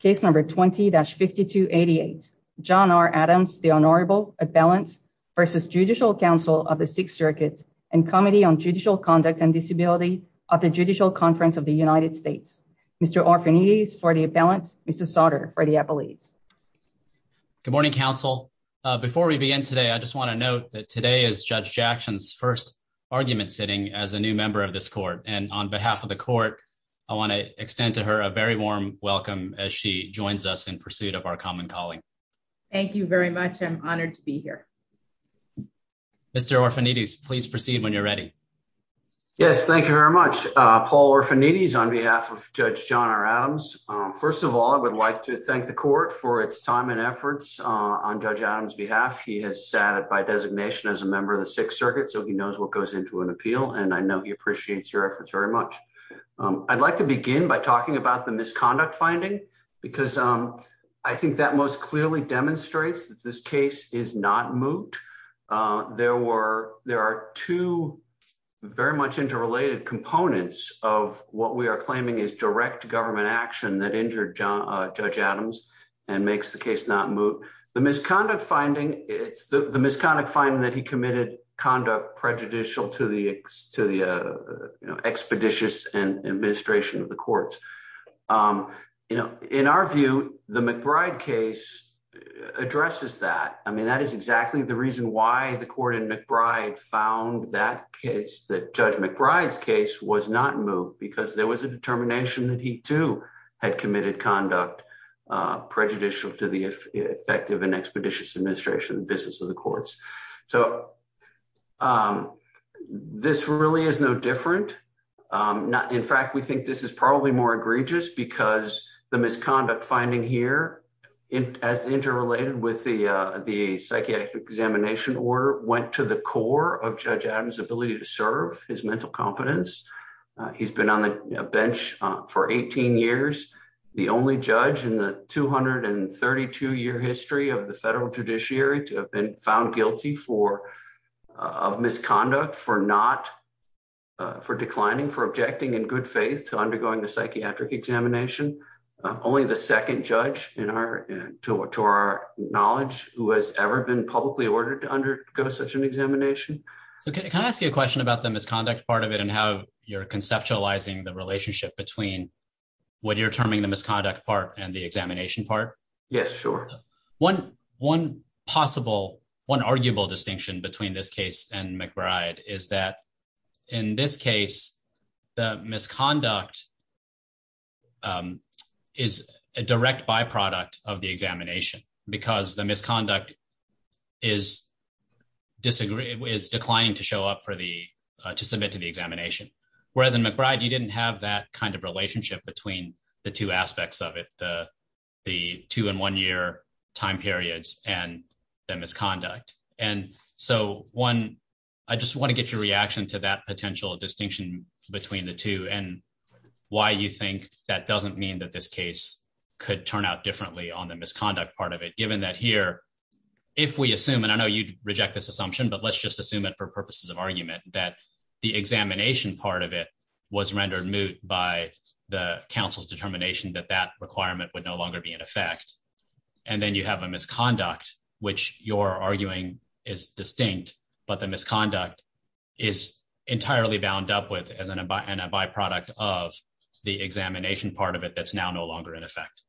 Case number 20-5288. John R. Adams, the Honorable Appellant versus Judicial Council of the Sixth Circuit and Committee on Judicial Conduct and Disability of the Judicial Conference of the United States. Mr. Orfinides for the Appellant. Mr. Sauter for the Appellate. Good morning, counsel. Before we begin today, I just want to note that today is Judge Jackson's first argument sitting as a new member of this court. And on behalf of the court, I want to extend to her a very warm welcome as she joins us in pursuit of our common calling. Thank you very much. I'm honored to be here. Mr. Orfinides, please proceed when you're ready. Yes, thank you very much. Paul Orfinides on behalf of Judge John R. Adams. First of all, I would like to thank the court for its time and efforts on Judge Adams' behalf. He has sat by designation as a member of the Sixth Circuit, so he knows what goes into an appeal. And I know he appreciates your efforts very much. I'd like to begin by talking about the misconduct finding, because I think that most clearly demonstrates that this case is not moot. There are two very much interrelated components of what we are claiming is direct government action that injured Judge Adams and makes the case not moot. The misconduct finding, it's the misconduct finding that he committed conduct prejudicial to the expeditious administration of the courts. In our view, the McBride case addresses that. That is exactly the reason why the court in McBride found that case, that Judge McBride's case was not moot, because there was a determination that he too had committed conduct prejudicial to the effective and expeditious administration of the business of the courts. So this really is no different. In fact, we think this is probably more egregious, because the misconduct finding here, as interrelated with the psychiatric examination order, went to the core of Judge Adams' ability to serve, his mental competence. He's been on the bench for 18 years, the only judge in the 232-year history of the judiciary to have been found guilty of misconduct, for declining, for objecting in good faith to undergoing the psychiatric examination. Only the second judge to our knowledge who has ever been publicly ordered to undergo such an examination. Can I ask you a question about the misconduct part of it and how you're conceptualizing the relationship between what you're terming the possible, one arguable distinction between this case and McBride, is that in this case, the misconduct is a direct byproduct of the examination, because the misconduct is declining to show up for the, to submit to the examination. Whereas in McBride, you didn't have that kind of relationship between the two aspects of it, the two-in-one-year time periods and the misconduct. And so one, I just want to get your reaction to that potential distinction between the two and why you think that doesn't mean that this case could turn out differently on the misconduct part of it, given that here, if we assume, and I know you'd reject this assumption, but let's just assume it for purposes of argument, that the examination part of it was rendered moot by the counsel's determination that that requirement would longer be in effect. And then you have a misconduct, which you're arguing is distinct, but the misconduct is entirely bound up with as a byproduct of the examination part of it, that's now no longer in effect.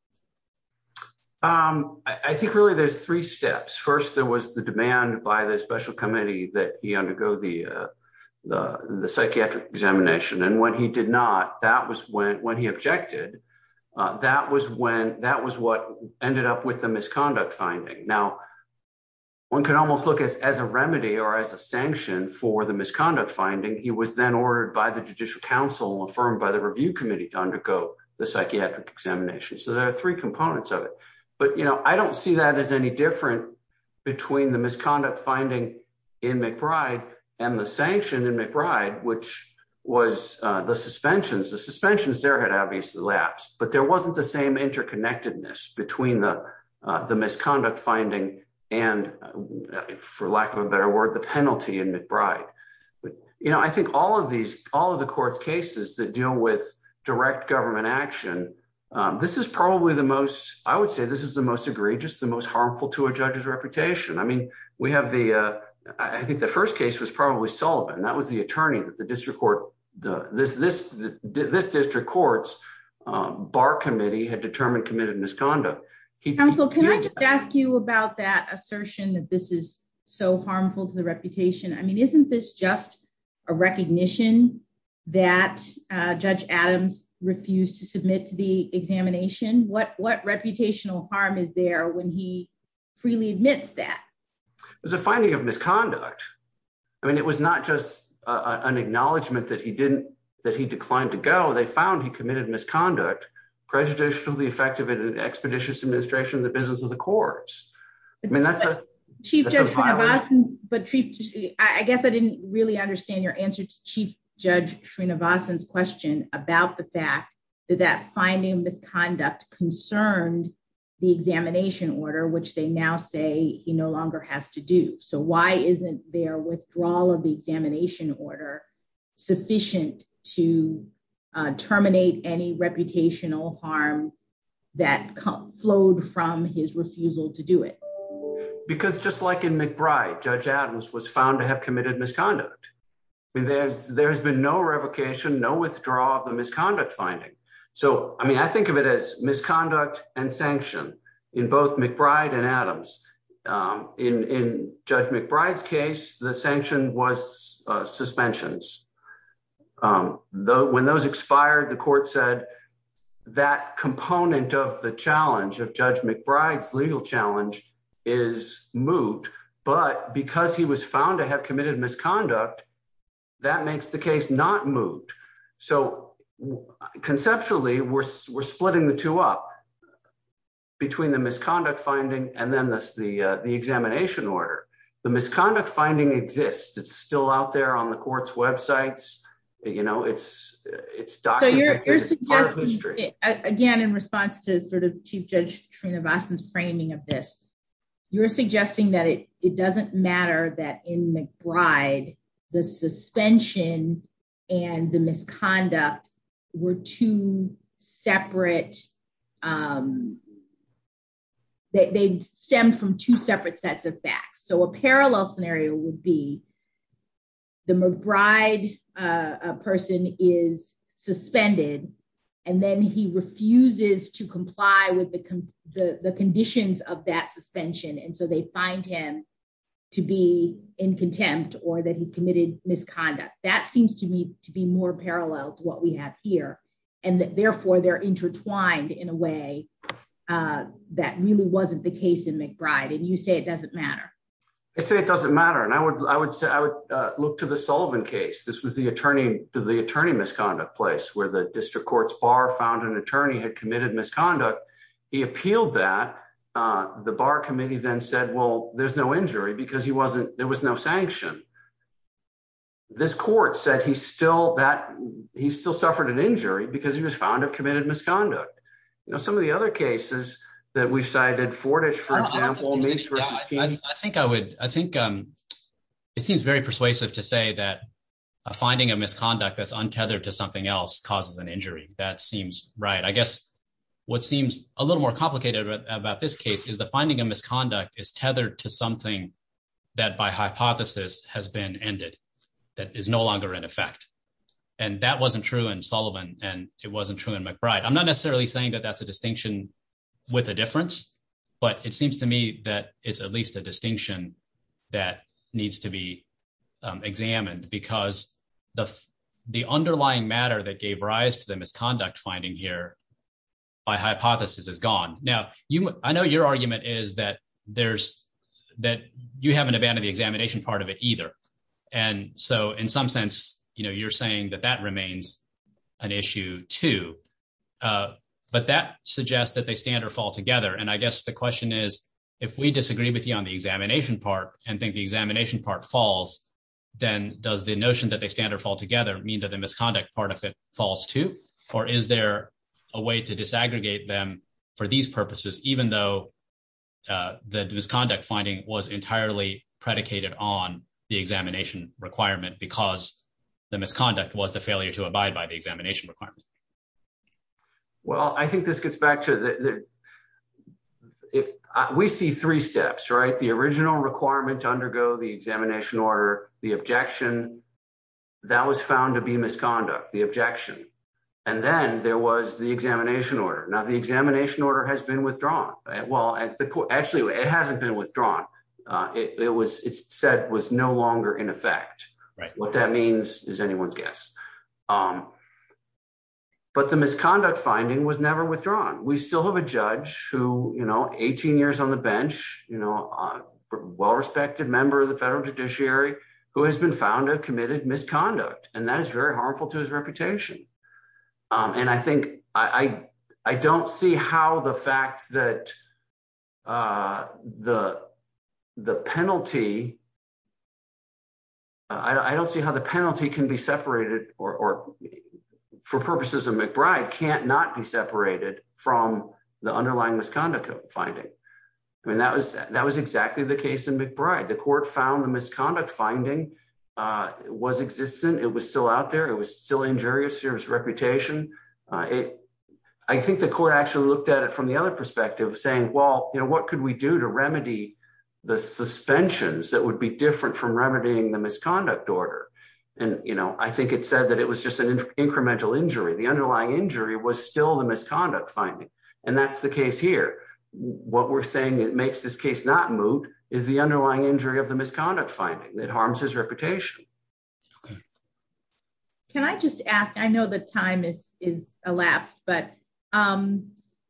I think really there's three steps. First, there was the demand by the special committee that he undergo the psychiatric examination. And when he did not, that was when, when he objected, that was when, that was what ended up with the misconduct finding. Now one can almost look as, as a remedy or as a sanction for the misconduct finding, he was then ordered by the judicial counsel, affirmed by the review committee to undergo the psychiatric examination. So there are three components of it, but you know, I don't see that as any different between the misconduct finding in McBride and the sanction in McBride, which was the suspensions, the suspensions there had obviously lapsed, but there wasn't the same interconnectedness between the, the misconduct finding and for lack of a better word, the penalty in McBride. You know, I think all of these, all of the court's cases that deal with direct government action, this is probably the most, I would say this is the most egregious, the most harmful to a judge's reputation. I mean, we have the, I think the first case was probably Sullivan. That was the attorney that the district court, the, this, this, this district court's bar committee had determined committed misconduct. Counsel, can I just ask you about that assertion that this is so harmful to the reputation? I mean, isn't this just a recognition that judge Adams refused to submit to the examination? What, what reputational harm is there when he misconduct? I mean, it was not just a, an acknowledgement that he didn't, that he declined to go. They found he committed misconduct, prejudicially effective at an expeditious administration, the business of the courts. I mean, that's a chief, but chief, I guess I didn't really understand your answer to chief judge Srinivasan's question about the fact that that finding misconduct concerned the examination order, which they now say he no longer has to do. So why isn't their withdrawal of the examination order sufficient to terminate any reputational harm that flowed from his refusal to do it? Because just like in McBride, judge Adams was found to have committed misconduct. I mean, there's, there has been no revocation, no withdrawal of the misconduct finding. So, I mean, I think of it as misconduct and sanction in both McBride and Adams in, in judge McBride's case, the sanction was suspensions. Though, when those expired, the court said that component of the challenge of judge McBride's legal challenge is moot, but because he was found to have committed misconduct, that makes the case not moot. So conceptually, we're, we're splitting the two up between the misconduct finding and then this, the, the examination order, the misconduct finding exists. It's still out there on the court's websites. You know, it's, it's documented. Again, in response to sort of chief judge Srinivasan's framing of this, you're suggesting that it, it doesn't matter that in McBride, the suspension and the misconduct were two separate, they stemmed from two separate sets of facts. So a parallel scenario would be the McBride person is suspended and then he refuses to comply with the, the, the conditions of that suspension. And so they find him to be in contempt or that he's committed misconduct. That seems to me to be more parallel to what we have here. And therefore they're intertwined in a way that really wasn't the case in McBride. And you say it doesn't matter. I say it doesn't matter. And I would, I would say, I would look to the Sullivan case. This was the attorney to the attorney misconduct place where the district court's bar found an attorney had committed misconduct. He appealed that the bar committee then said, well, there's no injury because he wasn't, there was no sanction. This court said he's still that he's still suffered an injury because he was found to have committed misconduct. You know, some of the other cases that we've cited Fortich, for example, I think I would, I think it seems very persuasive to say that finding a misconduct that's untethered to something else causes an injury. That seems right. I guess what seems a little more complicated about this case is the finding of misconduct is tethered to something that by hypothesis has been ended. That is no longer in effect. And that wasn't true in Sullivan. And it wasn't true in McBride. I'm not necessarily saying that that's a distinction with a difference, but it seems to me that it's at least a distinction that needs to be examined because the underlying matter that gave rise to that you haven't abandoned the examination part of it either. And so in some sense, you know, you're saying that that remains an issue too. But that suggests that they stand or fall together. And I guess the question is, if we disagree with you on the examination part and think the examination part falls, then does the notion that they stand or fall together mean that the misconduct part of it falls too? Or is there a way to disaggregate them for these purposes, even though the misconduct finding was entirely predicated on the examination requirement because the misconduct was the failure to abide by the examination requirement? Well, I think this gets back to the, we see three steps, right? The original requirement to undergo the examination order, the objection that was found to be misconduct, the objection. And then there was the examination order. Now the examination order has been withdrawn. Well, actually, it hasn't been withdrawn. It was said was no longer in effect. Right. What that means is anyone's guess. But the misconduct finding was never withdrawn. We still have a judge who, you know, 18 years on the bench, you know, a well-respected member of the federal judiciary who has been found to have committed misconduct. And that is very harmful to his reputation. And I think I don't see how the fact that the penalty, I don't see how the penalty can be separated or for purposes of McBride can't not be separated from the underlying misconduct finding. I mean, that was exactly the case in McBride. The court found the misconduct finding was existent. It was still out there. It was still injurious to his reputation. I think the court actually looked at it from the other perspective saying, well, you know, what could we do to remedy the suspensions that would be different from remedying the misconduct order? And, you know, I think it said that it was just an incremental injury. The underlying injury was still the misconduct finding. And that's the case here. What we're it makes this case not moot is the underlying injury of the misconduct finding that harms his reputation. Can I just ask, I know the time is elapsed, but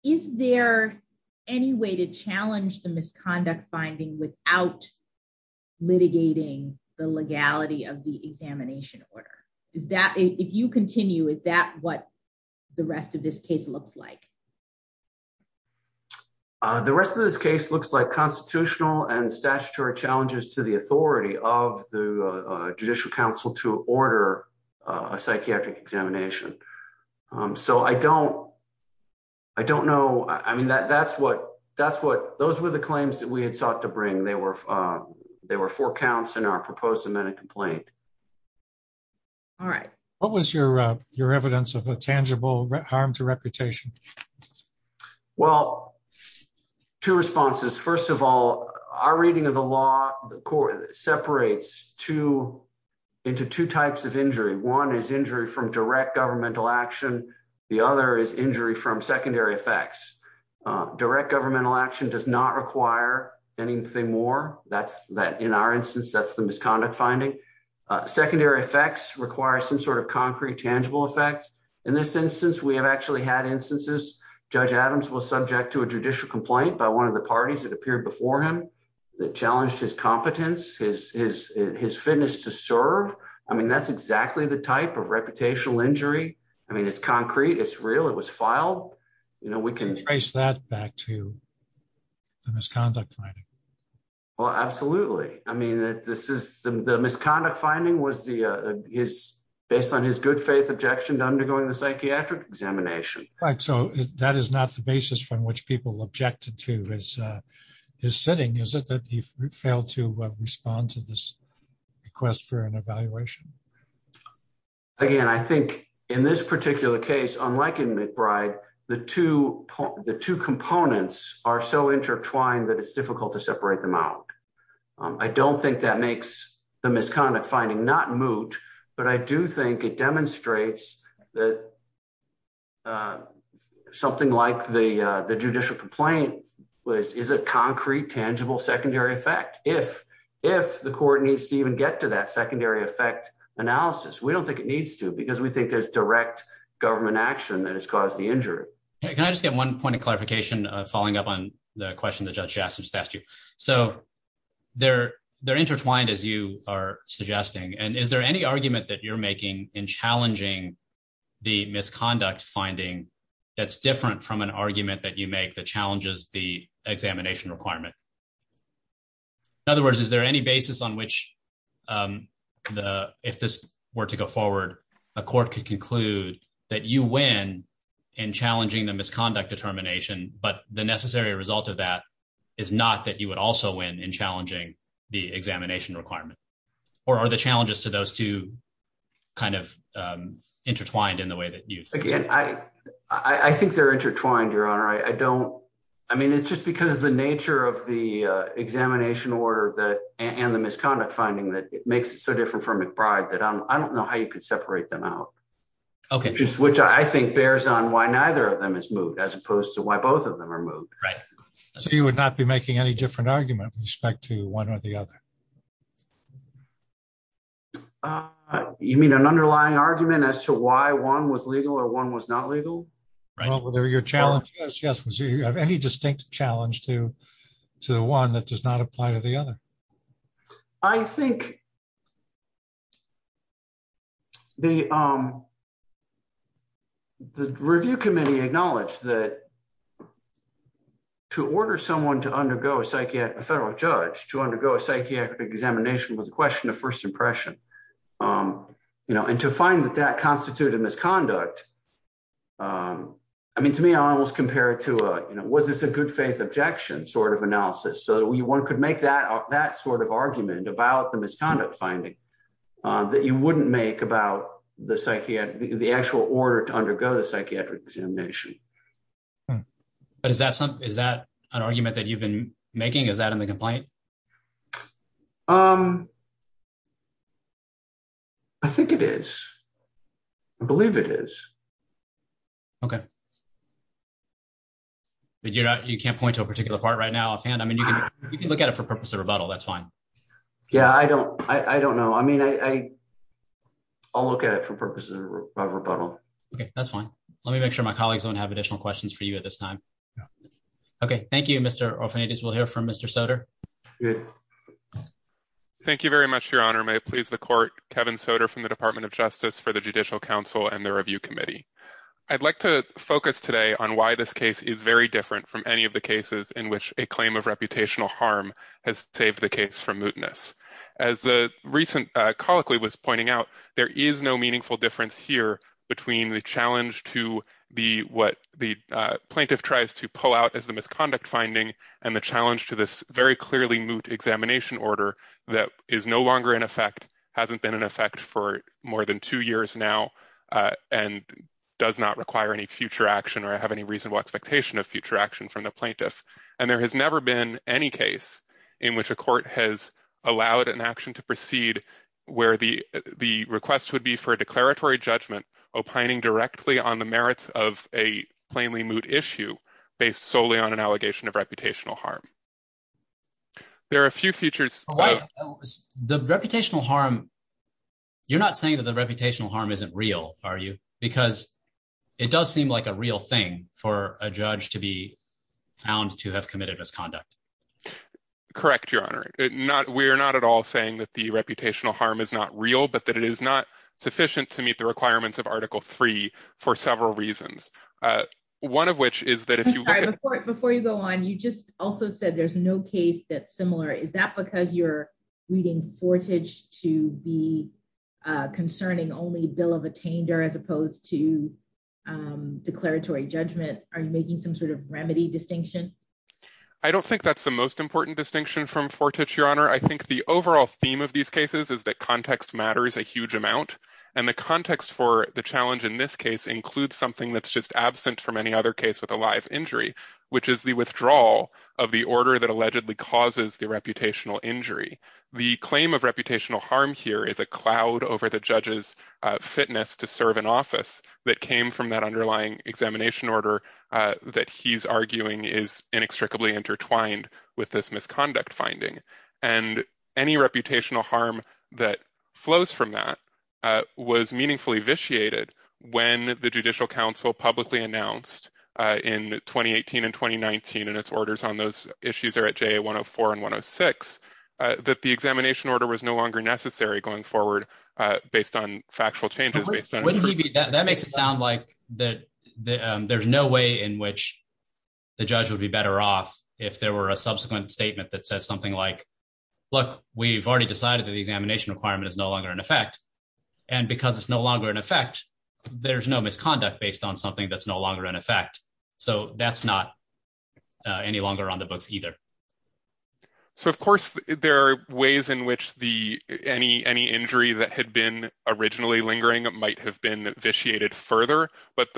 is there any way to challenge the misconduct finding without litigating the legality of the examination order? Is that if you continue, is that what the rest of this case looks like? The rest of this case looks like constitutional and statutory challenges to the authority of the judicial council to order a psychiatric examination. So I don't, I don't know. I mean, that that's what, that's what those were the claims that we had sought to bring. They were, they were four counts in our proposed amended complaint. All right. What was your, your evidence of a tangible harm to reputation? Well, two responses. First of all, our reading of the law, the court separates two into two types of injury. One is injury from direct governmental action. The other is injury from secondary effects. Direct governmental action does not require anything more. That's that in our instance, that's the misconduct finding. Secondary effects require some sort of concrete tangible effects. In this instance, we have actually had instances, Judge Adams was subject to a judicial complaint by one of the parties that appeared before him that challenged his competence, his, his, his fitness to serve. I mean, that's exactly the type of reputational injury. I mean, it's concrete, it's real, it was filed. You know, we can trace that back to the misconduct finding. Well, absolutely. I mean, this is the misconduct finding was the, is based on his good faith objection to undergoing the psychiatric examination. Right. So that is not the basis from which people objected to his, his sitting, is it that he failed to respond to this request for an evaluation? Again, I think in this particular case, unlike in McBride, the two, the two components are so intertwined that it's difficult to separate them out. I don't think that makes the misconduct finding not moot, but I do think it demonstrates that something like the, the judicial complaint was, is a concrete tangible secondary effect. If, if the court needs to even get to that secondary effect analysis, we don't think it needs to because we think there's direct government action that has caused the injury. Can I just get one point of clarification, following up on the question that judge Jackson just asked you. So they're, they're intertwined as you are suggesting. And is there any argument that you're making in challenging the misconduct finding that's different from an argument that you make the challenges, the examination requirement? In other words, is there any basis on which the, if this were to go forward, a court could conclude that you win in challenging the misconduct determination, but the necessary result of that is not that you would also win in challenging the examination requirement or are the challenges to those two kind of intertwined in the way that you think? Again, I, I think they're intertwined, your honor. I don't, I mean, it's just because of the nature of the examination order that, and the misconduct finding that it makes it so different from McBride that I'm, I don't know how you could separate them out. Okay. Which I think bears on why neither of them is moved as opposed to why both of them are moved. Right. So you would not be making any different argument with respect to one or the other. You mean an underlying argument as to why one was legal or one was not legal? Well, whatever your challenge is, yes. Was there any distinct challenge to, to the one that does not apply to the other? I think the the review committee acknowledged that to order someone to undergo a psychiatric, a federal judge to undergo a psychiatric examination was a question of first impression. You know, and to find that that constituted misconduct I mean, to me, I almost compare it to a, you know, was this a good faith objection sort of analysis so that we could make that, that sort of argument about the misconduct finding that you wouldn't make about the psychiatric, the actual order to undergo the psychiatric examination. But is that something, is that an argument that you've been making? Is that in the complaint? Um, I think it is. I believe it is. Okay. But you're not, you can't point to a particular part right now offhand. I mean, you can, you can look at it for purpose of rebuttal. That's fine. Yeah, I don't, I don't know. I mean, I, I'll look at it for purposes of rebuttal. Okay, that's fine. Let me make sure my colleagues don't have additional questions for you at this time. Okay. Thank you, Mr. Orfanidis. We'll hear from Mr. Soter. Thank you very much, Your Honor. May it please the court, Kevin Soter from the Department of Justice for the Judicial Council and the Review Committee. I'd like to focus today on why this case is very different from any of the cases in which a claim of reputational harm has saved the case from mootness. As the recent colloquy was pointing out, there is no meaningful difference here between the challenge to what the plaintiff tries to pull out as the misconduct finding and the challenge to this very clearly moot examination order that is no longer in effect, hasn't been in effect for more than two years now, and does not require any future action or have any reasonable expectation of future action from the plaintiff. And there has never been any case in which a court has allowed an action to proceed where the request would be for a declaratory judgment opining directly on the merits of a plainly moot issue based solely on an allegation of reputational harm. There are a few features... The reputational harm, you're not saying that the reputational harm isn't real, are you? Because it does seem like a real thing for a judge to be found to have committed misconduct. Correct, Your Honor. We're not at all saying that the article three for several reasons. One of which is that... Before you go on, you just also said there's no case that's similar. Is that because you're reading Fortich to be concerning only bill of attainder as opposed to declaratory judgment? Are you making some sort of remedy distinction? I don't think that's the most important distinction from Fortich, Your Honor. I think the overall theme of these cases is that context matters a huge amount, and the context for the challenge in this case includes something that's just absent from any other case with a live injury, which is the withdrawal of the order that allegedly causes the reputational injury. The claim of reputational harm here is a cloud over the judge's fitness to serve in office that came from that underlying examination order that he's arguing is inextricably intertwined with this misconduct finding. And any reputational harm that flows from that was meaningfully vitiated when the Judicial Council publicly announced in 2018 and 2019, and its orders on those issues are at JA 104 and 106, that the examination order was no longer necessary going forward based on factual changes. That makes it sound like that there's no way in which the judge would be better off if there were a subsequent statement that says like, look, we've already decided that the examination requirement is no longer in effect, and because it's no longer in effect, there's no misconduct based on something that's no longer in effect. So that's not any longer on the books either. So of course there are ways in which any injury that had been originally lingering might have been vitiated further, but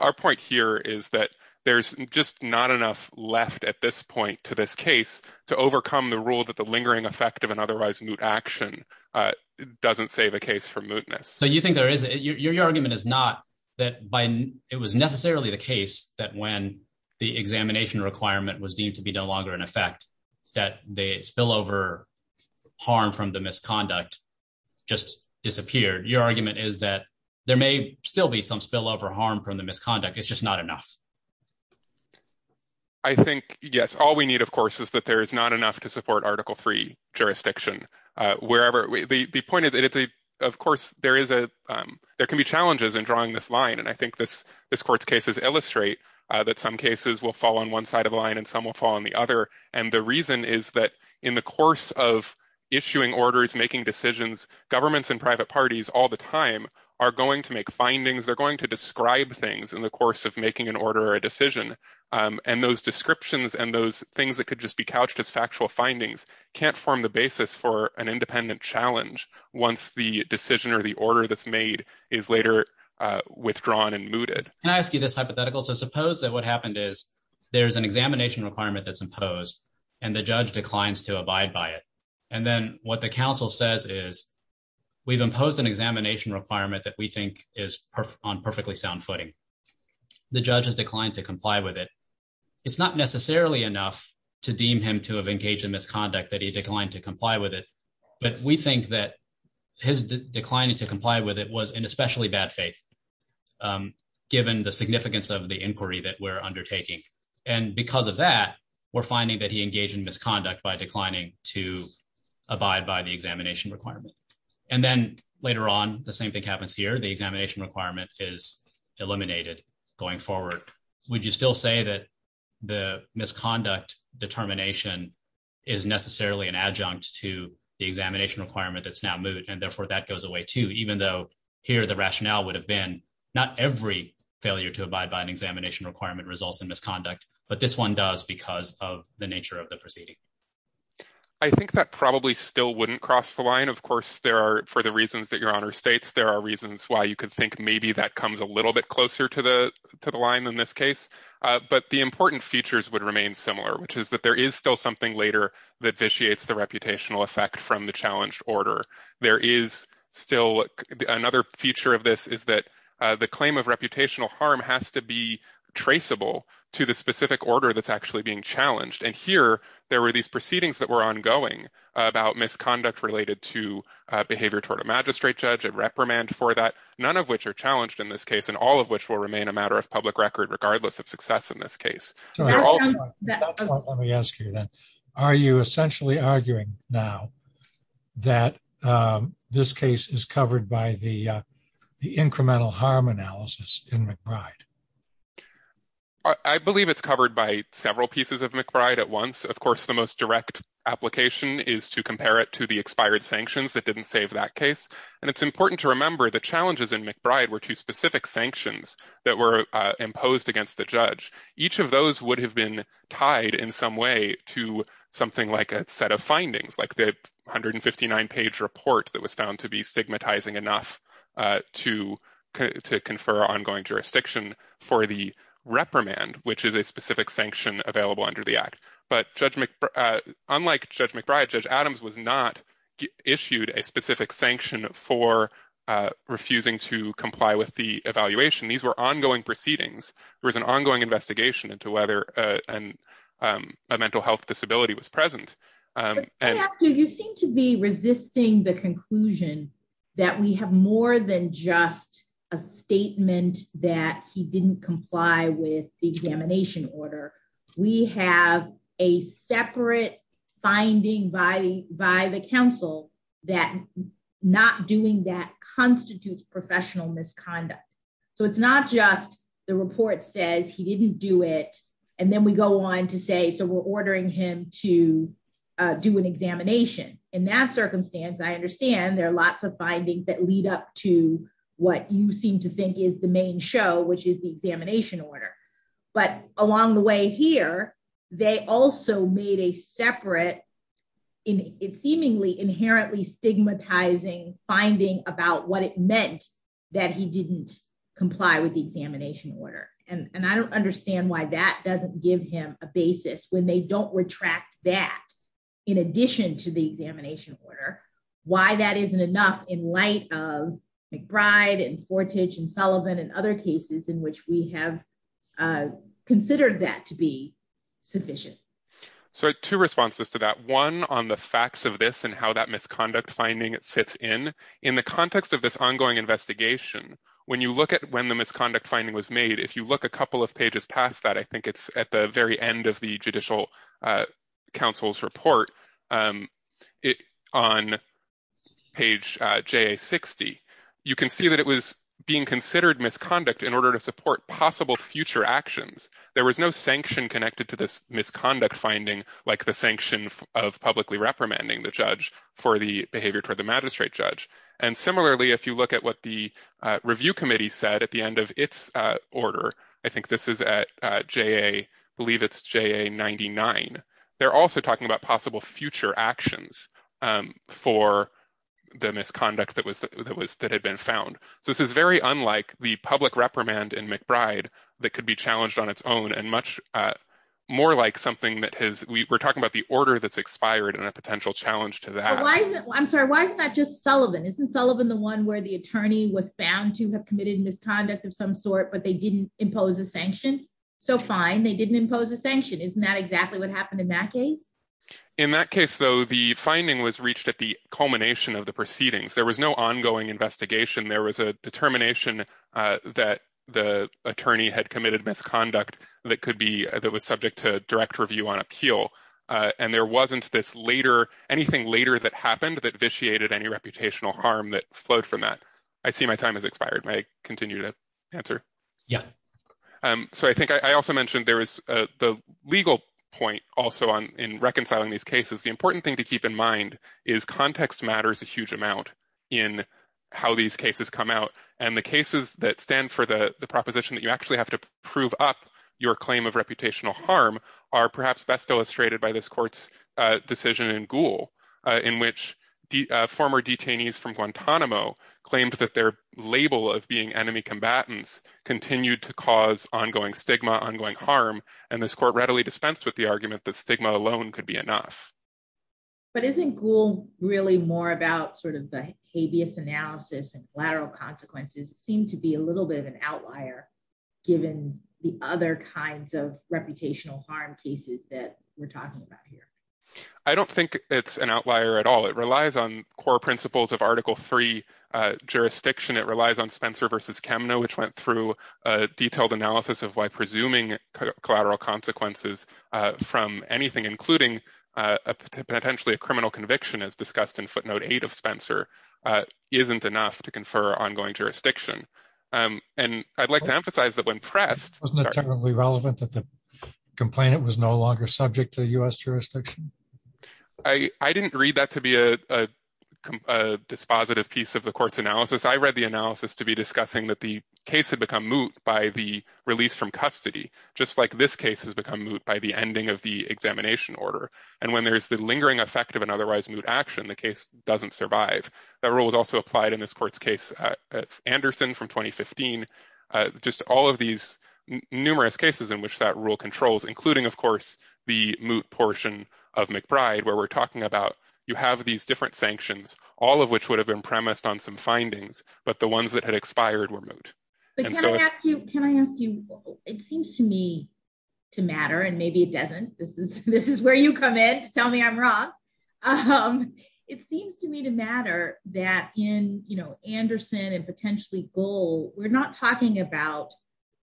our point is that there's just not enough left at this point to this case to overcome the rule that the lingering effect of an otherwise moot action doesn't save a case from mootness. So you think there is, your argument is not that it was necessarily the case that when the examination requirement was deemed to be no longer in effect that the spillover harm from the misconduct just disappeared. Your argument is that there may still be some spillover harm from the misconduct, it's just not enough. I think, yes, all we need, of course, is that there is not enough to support Article III jurisdiction. The point is, of course, there can be challenges in drawing this line, and I think this court's cases illustrate that some cases will fall on one side of the line and some will fall on the other, and the reason is that in the course of issuing orders, making decisions, governments and private parties all the time are going to make findings, they're going to make an order or a decision, and those descriptions and those things that could just be couched as factual findings can't form the basis for an independent challenge once the decision or the order that's made is later withdrawn and mooted. Can I ask you this hypothetical? So suppose that what happened is there's an examination requirement that's imposed and the judge declines to abide by it, and then what the counsel says is we've imposed an examination requirement that we think is on perfectly sound footing. The judge has declined to comply with it. It's not necessarily enough to deem him to have engaged in misconduct that he declined to comply with it, but we think that his declining to comply with it was in especially bad faith given the significance of the inquiry that we're undertaking, and because of that, we're finding that he engaged in misconduct by declining to abide by the examination requirement, and then later on, the same thing happens here. The examination requirement is eliminated going forward. Would you still say that the misconduct determination is necessarily an adjunct to the examination requirement that's now moot, and therefore, that goes away, too, even though here the rationale would have been not every failure to abide by an examination requirement results in misconduct, but this one does because of the nature of the proceeding. I think that probably still wouldn't cross the there are reasons why you could think maybe that comes a little bit closer to the to the line in this case, but the important features would remain similar, which is that there is still something later that vitiates the reputational effect from the challenged order. There is still another feature of this is that the claim of reputational harm has to be traceable to the specific order that's actually being challenged, and here there were these proceedings that were ongoing about misconduct related to behavior toward a magistrate judge, a reprimand for that, none of which are challenged in this case, and all of which will remain a matter of public record regardless of success in this case. Let me ask you then, are you essentially arguing now that this case is covered by the incremental harm analysis in McBride? I believe it's covered by several pieces of McBride at once. Of course, the most direct application is to compare it to the expired sanctions that didn't save that case, and it's important to remember the challenges in McBride were two specific sanctions that were imposed against the judge. Each of those would have been tied in some way to something like a set of findings, like the 159-page report that was found to be stigmatizing enough to confer ongoing jurisdiction for the reprimand, which is a specific sanction available under the act, but unlike Judge McBride, Judge Adams was not issued a specific sanction for refusing to comply with the evaluation. These were ongoing proceedings. There was an ongoing investigation into whether a mental health disability was present. You seem to be resisting the conclusion that we have more than just a statement that he didn't comply with the examination order. We have a separate finding by the counsel that not doing that constitutes professional misconduct. It's not just the report says he didn't do it, and then we go on to say, we're ordering him to do an examination. In that circumstance, I understand there are lots of findings that lead up to what you seem to think is the main show, which is the examination order, but along the way here, they also made a separate seemingly inherently stigmatizing finding about what it meant that he didn't comply with the examination order, and I don't give him a basis when they don't retract that in addition to the examination order, why that isn't enough in light of McBride and Fortage and Sullivan and other cases in which we have considered that to be sufficient. So two responses to that. One on the facts of this and how that misconduct finding fits in. In the context of this ongoing investigation, when you look at the misconduct finding was made, if you look a couple of pages past that, I think it's at the very end of the judicial counsel's report, on page JA-60, you can see that it was being considered misconduct in order to support possible future actions. There was no sanction connected to this misconduct finding, like the sanction of publicly reprimanding the judge for the behavior toward the magistrate judge. And similarly, if you look at what the review committee said at the end of its order, I think this is at JA, I believe it's JA-99, they're also talking about possible future actions for the misconduct that had been found. So this is very unlike the public reprimand in McBride that could be challenged on its own and much more like something that has, we're talking about the order that's expired and a potential challenge to that. I'm sorry, why is that just Sullivan? Isn't Sullivan the one where the attorney was found to have committed misconduct of some sort, but they didn't impose a sanction? So fine, they didn't impose a sanction. Isn't that exactly what happened in that case? In that case, though, the finding was reached at the culmination of the proceedings. There was no ongoing investigation. There was a determination that the attorney had appeal. And there wasn't this later, anything later that happened that vitiated any reputational harm that flowed from that. I see my time has expired. May I continue to answer? Yeah. So I think I also mentioned there was the legal point also in reconciling these cases. The important thing to keep in mind is context matters a huge amount in how these cases come out. And the cases that stand for the proposition that you actually have to prove up your claim of reputational harm perhaps best illustrated by this court's decision in Gould, in which the former detainees from Guantanamo claimed that their label of being enemy combatants continued to cause ongoing stigma, ongoing harm, and this court readily dispensed with the argument that stigma alone could be enough. But isn't Gould really more about sort of the habeas analysis and collateral consequences seem to be a little bit of an outlier given the other kinds of reputational harm cases that we're talking about here? I don't think it's an outlier at all. It relies on core principles of article three jurisdiction. It relies on Spencer versus Kemner, which went through a detailed analysis of why presuming collateral consequences from anything, including potentially a criminal conviction as discussed in footnote eight of Spencer, isn't enough to confer ongoing jurisdiction. And I'd like to emphasize that when pressed... Wasn't it terribly relevant that the complainant was no longer subject to the U.S. jurisdiction? I didn't read that to be a dispositive piece of the court's analysis. I read the analysis to be discussing that the case had become moot by the release from custody, just like this case has become moot by the ending of the examination order. And when there's the lingering effect of an otherwise moot action, the case doesn't survive. That rule was also applied in this court's case Anderson from 2015. Just all of these numerous cases in which that rule controls, including of course the moot portion of McBride, where we're talking about you have these different sanctions, all of which would have been premised on some findings, but the ones that had expired were moot. But can I ask you, can I ask you, it seems to me to matter and maybe it doesn't. This is where you come in to tell me I'm wrong. It seems to me to matter that in Anderson and potentially Gould, we're not talking about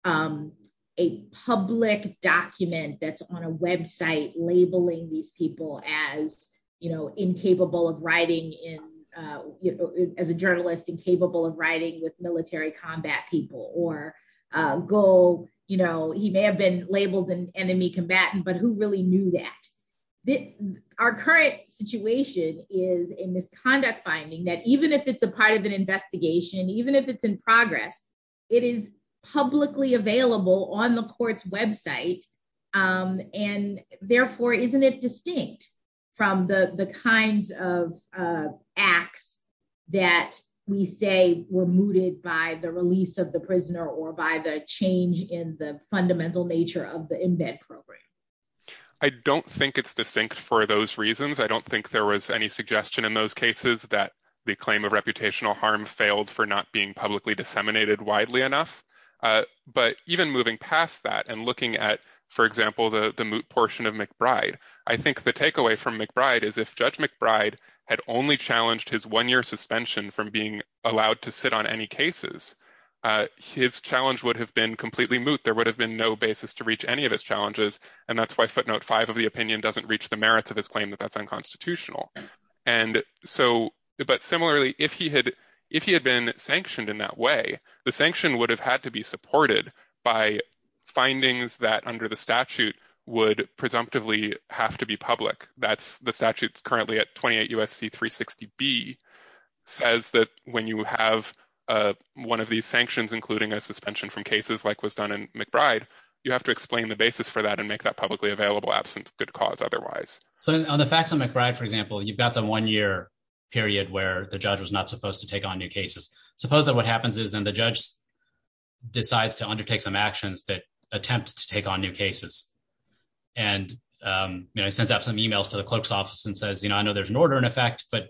a public document that's on a website labeling these people as incapable of writing, as a journalist incapable of writing with military combat people or Gould, he may have been labeled an enemy combatant, but who really knew that? Our current situation is a misconduct finding that even if it's a part of an investigation, even if it's in progress, it is publicly available on the court's website. And therefore, isn't it distinct from the kinds of acts that we say were mooted by the release of prisoner or by the change in the fundamental nature of the embed program? I don't think it's distinct for those reasons. I don't think there was any suggestion in those cases that the claim of reputational harm failed for not being publicly disseminated widely enough. But even moving past that and looking at, for example, the moot portion of McBride, I think the takeaway from McBride is if Judge McBride had only challenged his one-year suspension from being allowed to sit on any cases, his challenge would have been completely moot. There would have been no basis to reach any of his challenges. And that's why footnote five of the opinion doesn't reach the merits of his claim that that's unconstitutional. And so, but similarly, if he had been sanctioned in that way, the sanction would have had to be supported by findings that under the statute would presumptively have to be public. That's the statute currently at 28 U.S.C. 360B says that when you have one of these sanctions, including a suspension from cases like was done in McBride, you have to explain the basis for that and make that publicly available absence good cause otherwise. So on the facts on McBride, for example, you've got the one-year period where the judge was not supposed to take on new cases. Suppose that what happens is then the judge decides to undertake some actions that attempt to take on new cases. And I sent out some emails to the clerk's office and says, you know, I know there's an order in effect, but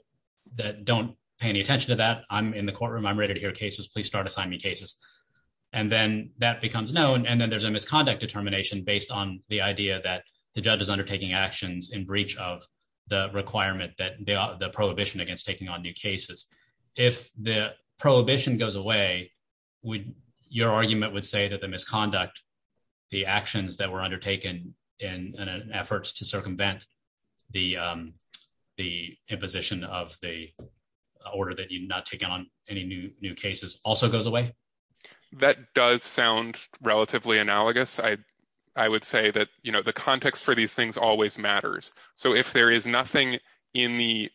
that don't pay any attention to that. I'm in the courtroom. I'm ready to hear cases. Please start assigning me cases. And then that becomes known. And then there's a misconduct determination based on the idea that the judge is undertaking actions in breach of the requirement that the prohibition against taking on new cases. If the prohibition goes away, your argument would say that the misconduct, the actions that were undertaken in an effort to circumvent the imposition of the order that you not take on any new cases also goes away? That does sound relatively analogous. I would say that, you know, the context for these things always matters. So if there is nothing in the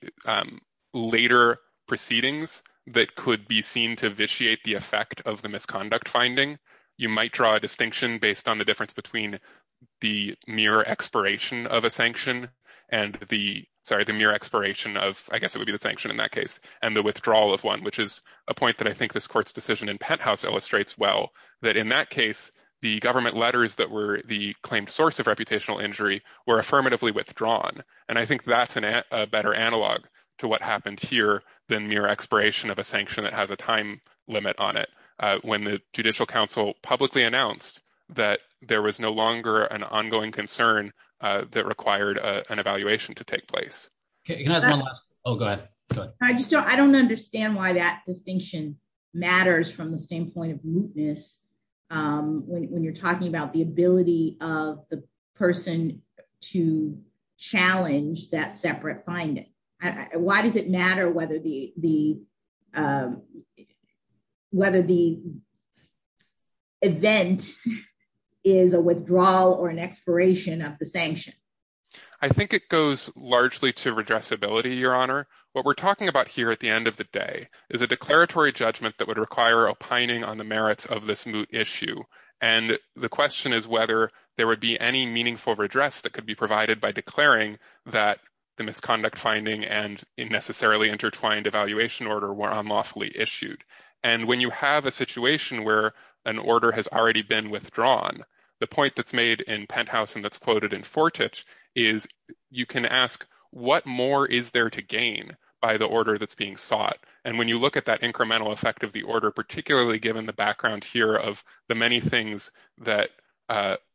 later proceedings that could be seen to vitiate the effect of the misconduct finding, you might draw a distinction based on the difference between the mere expiration of a sanction and the, sorry, the mere expiration of, I guess it would be the sanction in that case, and the withdrawal of one, which is a point that I think this court's decision in Penthouse illustrates well, that in that case, the government letters that were the claimed source of reputational injury were affirmatively withdrawn. And I think that's a better analog to what happened here than mere expiration of a sanction that has a time limit on it. When the Judicial Council publicly announced that there was no longer an ongoing concern that required an evaluation to take place. Okay, can I ask one last, oh, go ahead, go ahead. I don't understand why that distinction matters from the standpoint of mootness when you're talking about the ability of the person to challenge that separate finding. Why does it matter whether the event is a withdrawal or an expiration of the sanction? I think it goes largely to redressability, Your Honor. What we're talking about here at the end of the day is a declaratory judgment that would require opining on the merits of this moot issue. And the question is whether there would be any meaningful redress that could be provided by declaring that the misconduct finding and unnecessarily intertwined evaluation order were unlawfully issued. And when you have a situation where an order has already been withdrawn, the point that's made in Penthouse and that's quoted in Fortich is you can ask what more is there to gain by the order that's being sought. And when you look at that incremental effect of the order, particularly given the background here of the many things that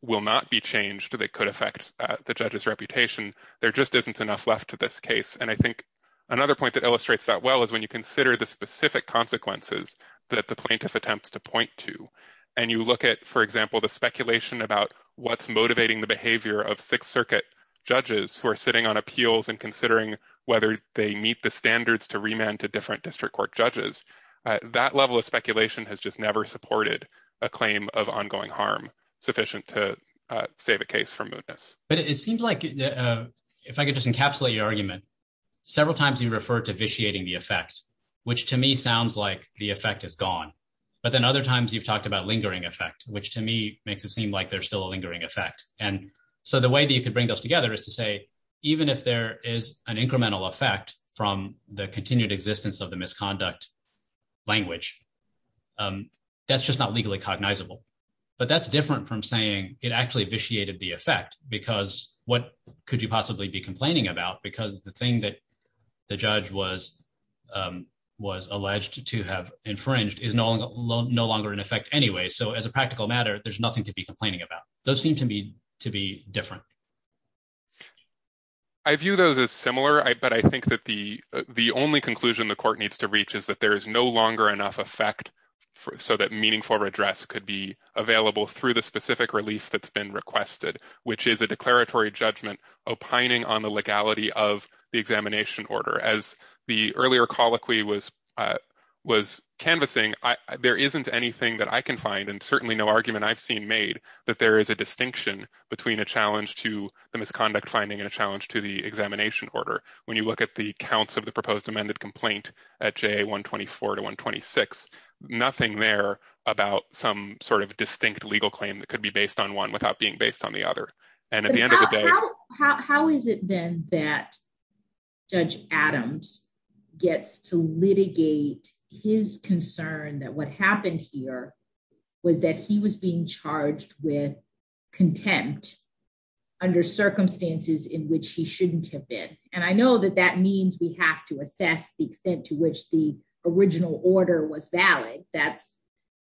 will not be changed that could affect the judge's reputation, there just isn't enough left to this case. And I think another point that illustrates that well is when you consider the specific consequences that the plaintiff attempts to point to. And you look at, for example, the speculation about what's motivating the behavior of Sixth Circuit judges who are sitting on appeals and considering whether they meet the standards to remand to different district court judges. That level of speculation has just never supported a claim of ongoing harm sufficient to save a case from mootness. But it seems like, if I could just encapsulate your argument, several times you refer to vitiating the effect, which to me sounds like the effect is gone. But then other times you've talked about lingering effect, which to me makes it seem like there's still a lingering effect. And so the way that you could bring those together is to say, even if there is an incremental effect from the continued existence of the misconduct language, that's just not legally cognizable. But that's different from saying it actually vitiated the effect, because what could you possibly be complaining about? Because the thing that the judge was alleged to have infringed is no longer in effect anyway. So as a practical matter, there's nothing to be complaining about. Those seem to me to be different. I view those as similar, but I think that the only conclusion the court needs to reach is that there is no longer enough effect so that meaningful redress could be available through the specific relief that's been requested, which is a declaratory judgment opining on the legality of the examination order. As the earlier colloquy was canvassing, there isn't anything that I can find, and certainly no argument I've seen made, that there is a distinction between a challenge to the misconduct finding and a challenge to the examination order. When you look at the counts of the proposed amended complaint at JA 124 to 126, nothing there about some sort of distinct legal claim that could be based on one without being based on the other. And at the end of the day- How is it then that Judge Adams gets to litigate his concern that what happened here was that he was being charged with contempt under circumstances in which he shouldn't have been? And I know that that means we have to assess the extent to which the original order was valid. That's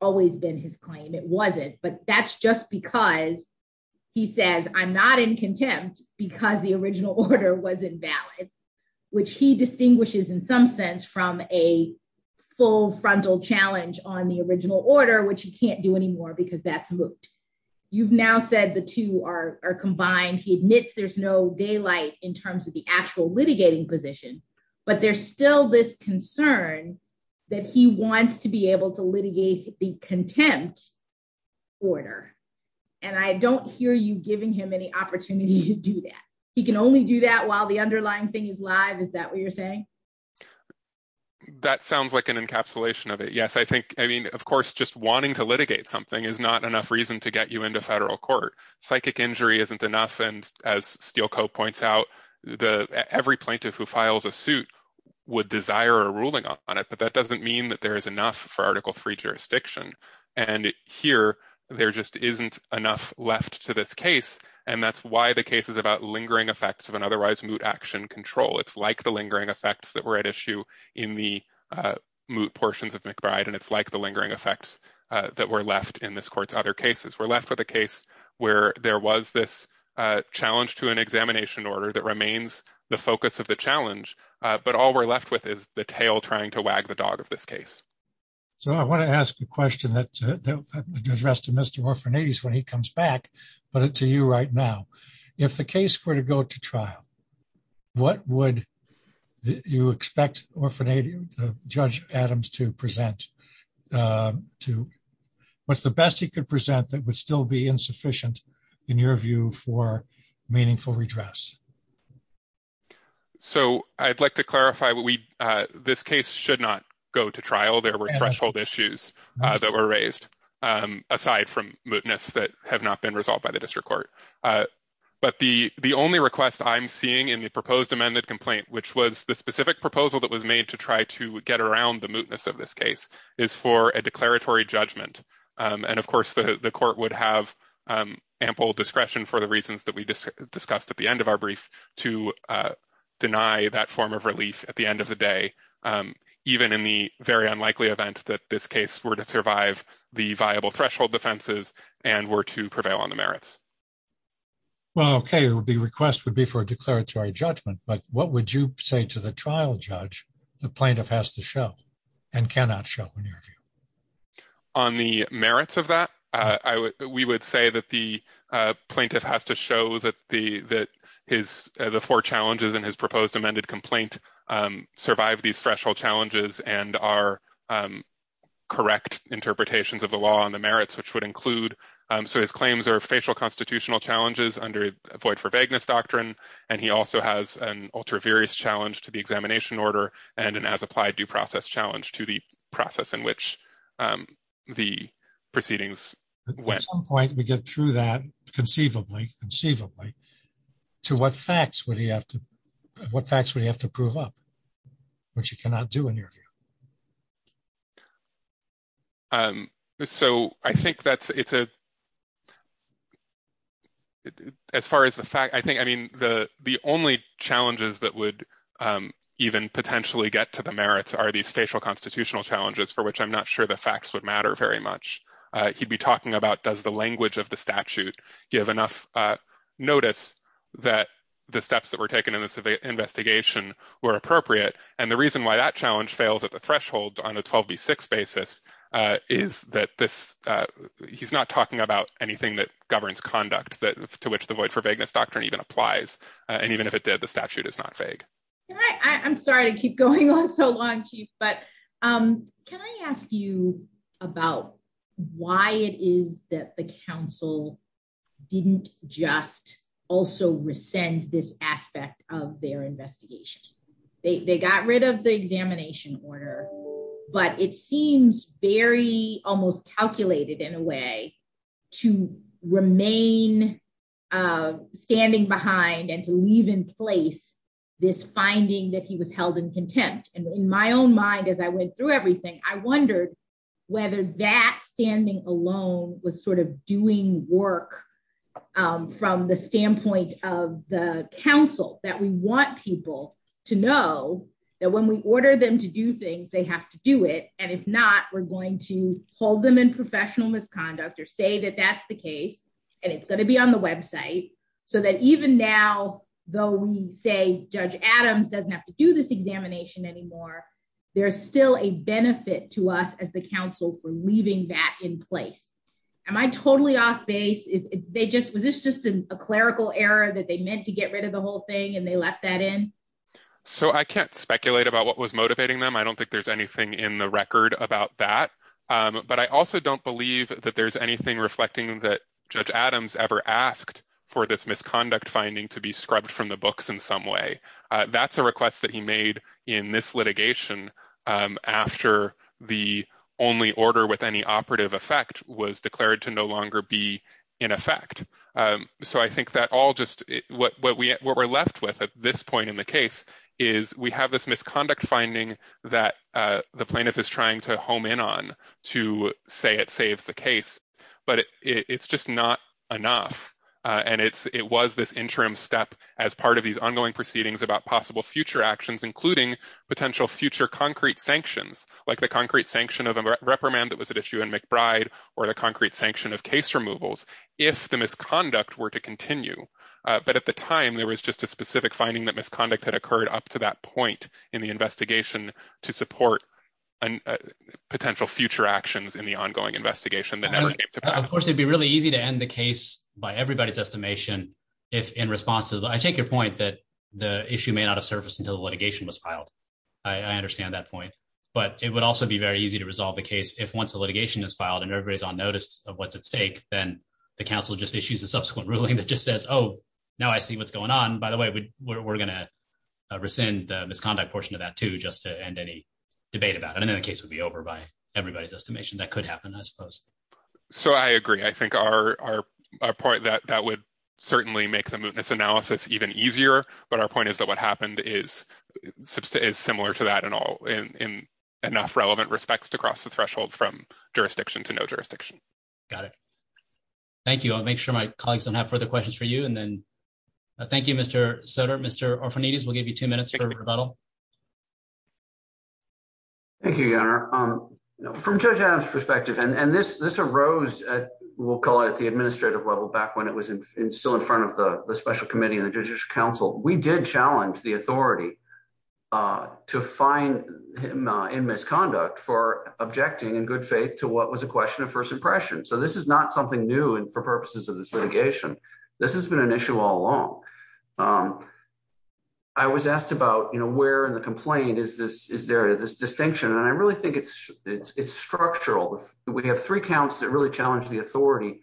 always been his claim. It wasn't. But that's just because he says, I'm not in contempt because the original order was invalid, which he distinguishes in some sense from a full litigating order, which you can't do anymore because that's moot. You've now said the two are combined. He admits there's no daylight in terms of the actual litigating position, but there's still this concern that he wants to be able to litigate the contempt order. And I don't hear you giving him any opportunity to do that. He can only do that while the underlying thing is live. Is that what you're saying? That sounds like an encapsulation of it. Yes, of course, just wanting to litigate something is not enough reason to get you into federal court. Psychic injury isn't enough. And as Steelco points out, every plaintiff who files a suit would desire a ruling on it, but that doesn't mean that there is enough for Article III jurisdiction. And here, there just isn't enough left to this case. And that's why the case is about lingering effects of an otherwise moot action control. It's like the lingering effects that were at issue in the moot portions of McBride, and it's like the lingering effects that were left in this court's other cases. We're left with a case where there was this challenge to an examination order that remains the focus of the challenge, but all we're left with is the tail trying to wag the dog of this case. So I want to ask a question that addressed to Mr. Orphanides when he comes back, but to you right now. If the case were to go to expect Judge Adams to present, what's the best he could present that would still be insufficient in your view for meaningful redress? So I'd like to clarify, this case should not go to trial. There were threshold issues that were raised aside from mootness that have not been resolved by the district court. But the only request I'm seeing in the proposed amended complaint, which was the specific proposal that was made to try to get around the mootness of this case, is for a declaratory judgment. And of course, the court would have ample discretion for the reasons that we just discussed at the end of our brief to deny that form of relief at the end of the day, even in the very unlikely event that this case were to survive the viable threshold defenses and were to prevail on the merits. Well, okay, the request would be for a declaratory judgment, but what would you say to the trial judge, the plaintiff has to show and cannot show in your view? On the merits of that, we would say that the plaintiff has to show that the four challenges in his proposed amended complaint survive these threshold challenges and are correct interpretations of the law on the merits, which would include, so his claims are facial challenges under void for vagueness doctrine. And he also has an ultra various challenge to the examination order and an as applied due process challenge to the process in which the proceedings. At some point, we get through that conceivably, conceivably, to what facts would he have to, what facts would he have to prove up, which he cannot do in your view? Um, so I think that's, it's a, as far as the fact, I think, I mean, the, the only challenges that would even potentially get to the merits are these spatial constitutional challenges for which I'm not sure the facts would matter very much. He'd be talking about does the language of the statute give enough notice that the steps that were taken in this investigation were appropriate. And the reason why that on a 12 B six basis, uh, is that this, uh, he's not talking about anything that governs conduct that to which the void for vagueness doctrine even applies. And even if it did, the statute is not vague. I'm sorry to keep going on so long, chief, but, um, can I ask you about why it is that the council didn't just also rescind this aspect of their investigation? They got rid of the examination order, but it seems very almost calculated in a way to remain, uh, standing behind and to leave in place this finding that he was held in contempt. And in my own mind, as I went through everything, I wondered whether that standing alone was sort of doing work, um, the standpoint of the council that we want people to know that when we order them to do things, they have to do it. And if not, we're going to hold them in professional misconduct or say that that's the case and it's going to be on the website so that even now, though we say judge Adams doesn't have to do this examination anymore, there's still a benefit to us as the council for a clerical error that they meant to get rid of the whole thing and they left that in. So I can't speculate about what was motivating them. I don't think there's anything in the record about that. Um, but I also don't believe that there's anything reflecting that judge Adams ever asked for this misconduct finding to be scrubbed from the books in some way. Uh, that's a request that he made in this litigation, um, after the only order with any operative effect was declared to no longer be in effect. Um, so I think that all just what, what we, what we're left with at this point in the case is we have this misconduct finding that, uh, the plaintiff is trying to home in on to say it saves the case, but it's just not enough. Uh, and it's, it was this interim step as part of these ongoing proceedings about possible future actions, including potential future concrete sanctions, like the concrete sanction of a reprimand that was at issue in McBride or the concrete sanction of case removals, if the misconduct were to continue. Uh, but at the time there was just a specific finding that misconduct had occurred up to that point in the investigation to support potential future actions in the ongoing investigation that never came to pass. Of course, it'd be really easy to end the case by everybody's estimation if in response to the, I take your point that the issue may not have surfaced until the litigation was filed. I understand that point, but it would also be very easy to resolve the case if once the of what's at stake, then the council just issues a subsequent ruling that just says, Oh, now I see what's going on. By the way, we're going to rescind the misconduct portion of that too, just to end any debate about it. And then the case would be over by everybody's estimation that could happen, I suppose. So I agree. I think our, our, our point that that would certainly make the mootness analysis even easier, but our point is that what happened is is similar to that and all in, in enough relevant respects to cross the threshold from jurisdiction to no jurisdiction. Got it. Thank you. I'll make sure my colleagues don't have further questions for you. And then thank you, Mr. Sutter, Mr. Orfanides, we'll give you two minutes for rebuttal. Thank you, Your Honor. From Judge Adam's perspective, and, and this, this arose at, we'll call it the administrative level back when it was in, still in front of the, the special committee and the judicial council, we did challenge the authority to find him in misconduct for objecting in good faith to what was a question of first impression. So this is not something new and for purposes of the litigation, this has been an issue all along. I was asked about, you know, where in the complaint is this, is there this distinction? And I really think it's, it's, it's structural. We have three counts that really challenged the authority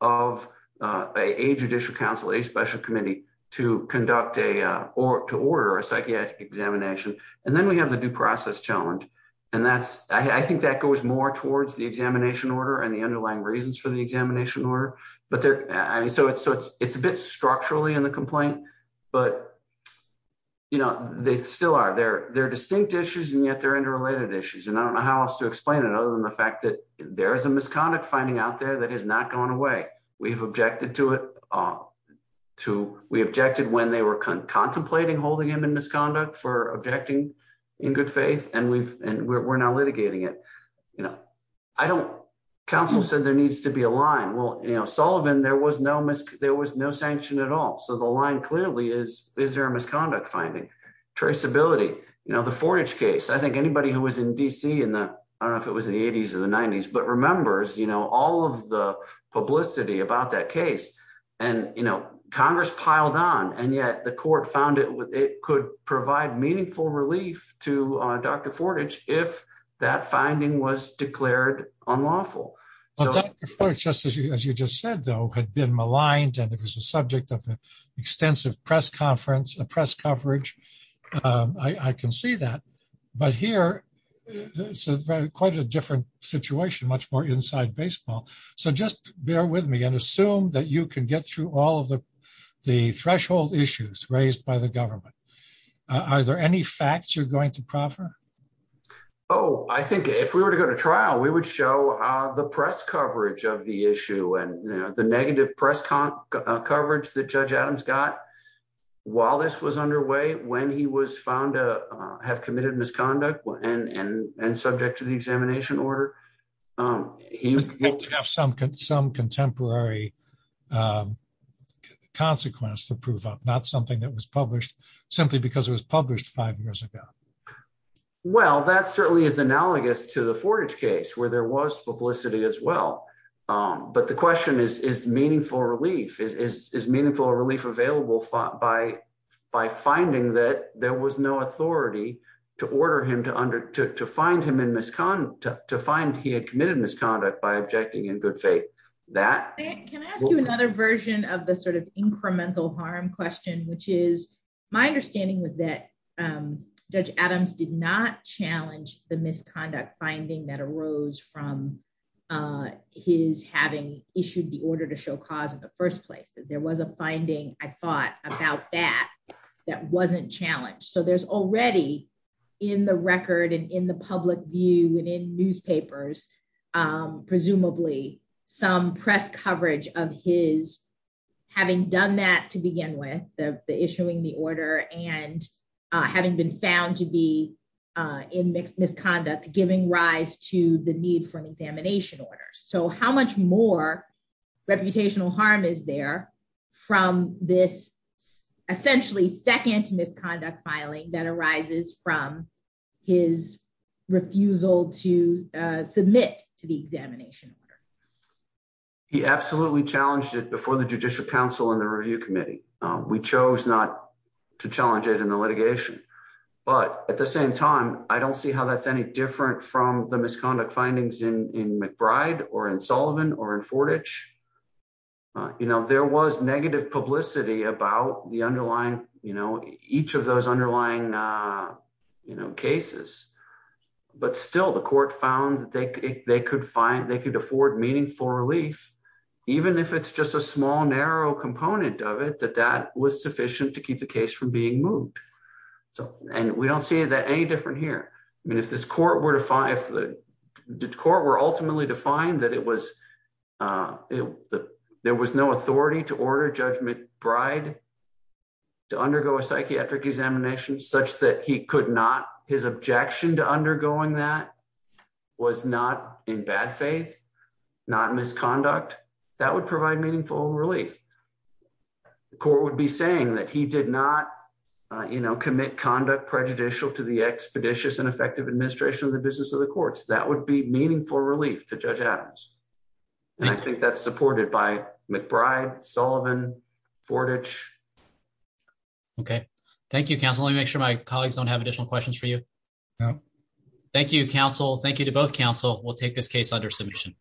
of a judicial council, a special committee to conduct a, to order a psychiatric examination, and then we have the due process challenge. And that's, I think that goes more towards the examination order and the underlying reasons for the examination order. But there, I mean, so it's, so it's, it's a bit structurally in the complaint, but, you know, they still are, they're, they're distinct issues and yet they're interrelated issues. And I don't know how else to explain it other than the fact that there is a misconduct finding out there that has not gone away. We've objected to it, to, we objected when they were contemplating holding him in misconduct for objecting in good faith and we've, and we're now litigating it. You know, I don't, counsel said there needs to be a line. Well, you know, Sullivan, there was no misc, there was no sanction at all. So the line clearly is, is there a misconduct finding? Traceability, you know, the Fornage case, I think anybody who was in DC in the, I don't know if it was the eighties or the nineties, but remembers, you know, all of the publicity about that case and, you know, Congress piled on and yet the court found it, it could provide meaningful relief to Dr. Fornage if that finding was declared unlawful. Well, just as you, as you just said, though, had been maligned and it was a subject of extensive press conference, a press coverage. I can see that, but here it's a very, quite a situation, much more inside baseball. So just bear with me and assume that you can get through all of the threshold issues raised by the government. Are there any facts you're going to proffer? Oh, I think if we were to go to trial, we would show the press coverage of the issue and the negative press coverage that Judge Adams got while this was underway, when he was found to have committed misconduct and subject to the examination order. He would have to have some contemporary consequence to prove up, not something that was published simply because it was published five years ago. Well, that certainly is analogous to the Fornage case where there was publicity as well. But the question is, is meaningful relief, is meaningful relief available by finding that there was no authority to order him to find him in misconduct, to find he had committed misconduct by objecting in good faith. Can I ask you another version of the sort of incremental harm question, which is, my understanding was that Judge Adams did not challenge the misconduct finding that arose from his having issued the order to show cause in the first place, that was a finding, I thought about that, that wasn't challenged. So there's already in the record and in the public view and in newspapers, presumably, some press coverage of his having done that to begin with the issuing the order and having been found to be in misconduct, giving rise to the need for an examination order. So how much more reputational harm is there from this essentially second misconduct filing that arises from his refusal to submit to the examination order? He absolutely challenged it before the Judicial Council and the Review Committee. We chose not to challenge it in the litigation. But at the same time, I don't see how that's any from the misconduct findings in McBride or in Sullivan or in Fortich. You know, there was negative publicity about the underlying, you know, each of those underlying you know, cases, but still the court found that they could find, they could afford meaningful relief, even if it's just a small narrow component of it, that that was sufficient to keep the case from being moved. So, and we don't see that any different here. I mean, if this court were to find, if the court were ultimately defined that it was, there was no authority to order Judge McBride to undergo a psychiatric examination such that he could not, his objection to undergoing that was not in bad faith, not misconduct, that would provide meaningful relief. The court would be saying that he did not, you know, commit conduct prejudicial to the expeditious and effective administration of the business of the courts. That would be meaningful relief to Judge Adams. And I think that's supported by McBride, Sullivan, Fortich. Okay. Thank you, counsel. Let me make sure my colleagues don't have additional questions for you. Thank you, counsel. Thank you to both counsel. We'll take this case under submission.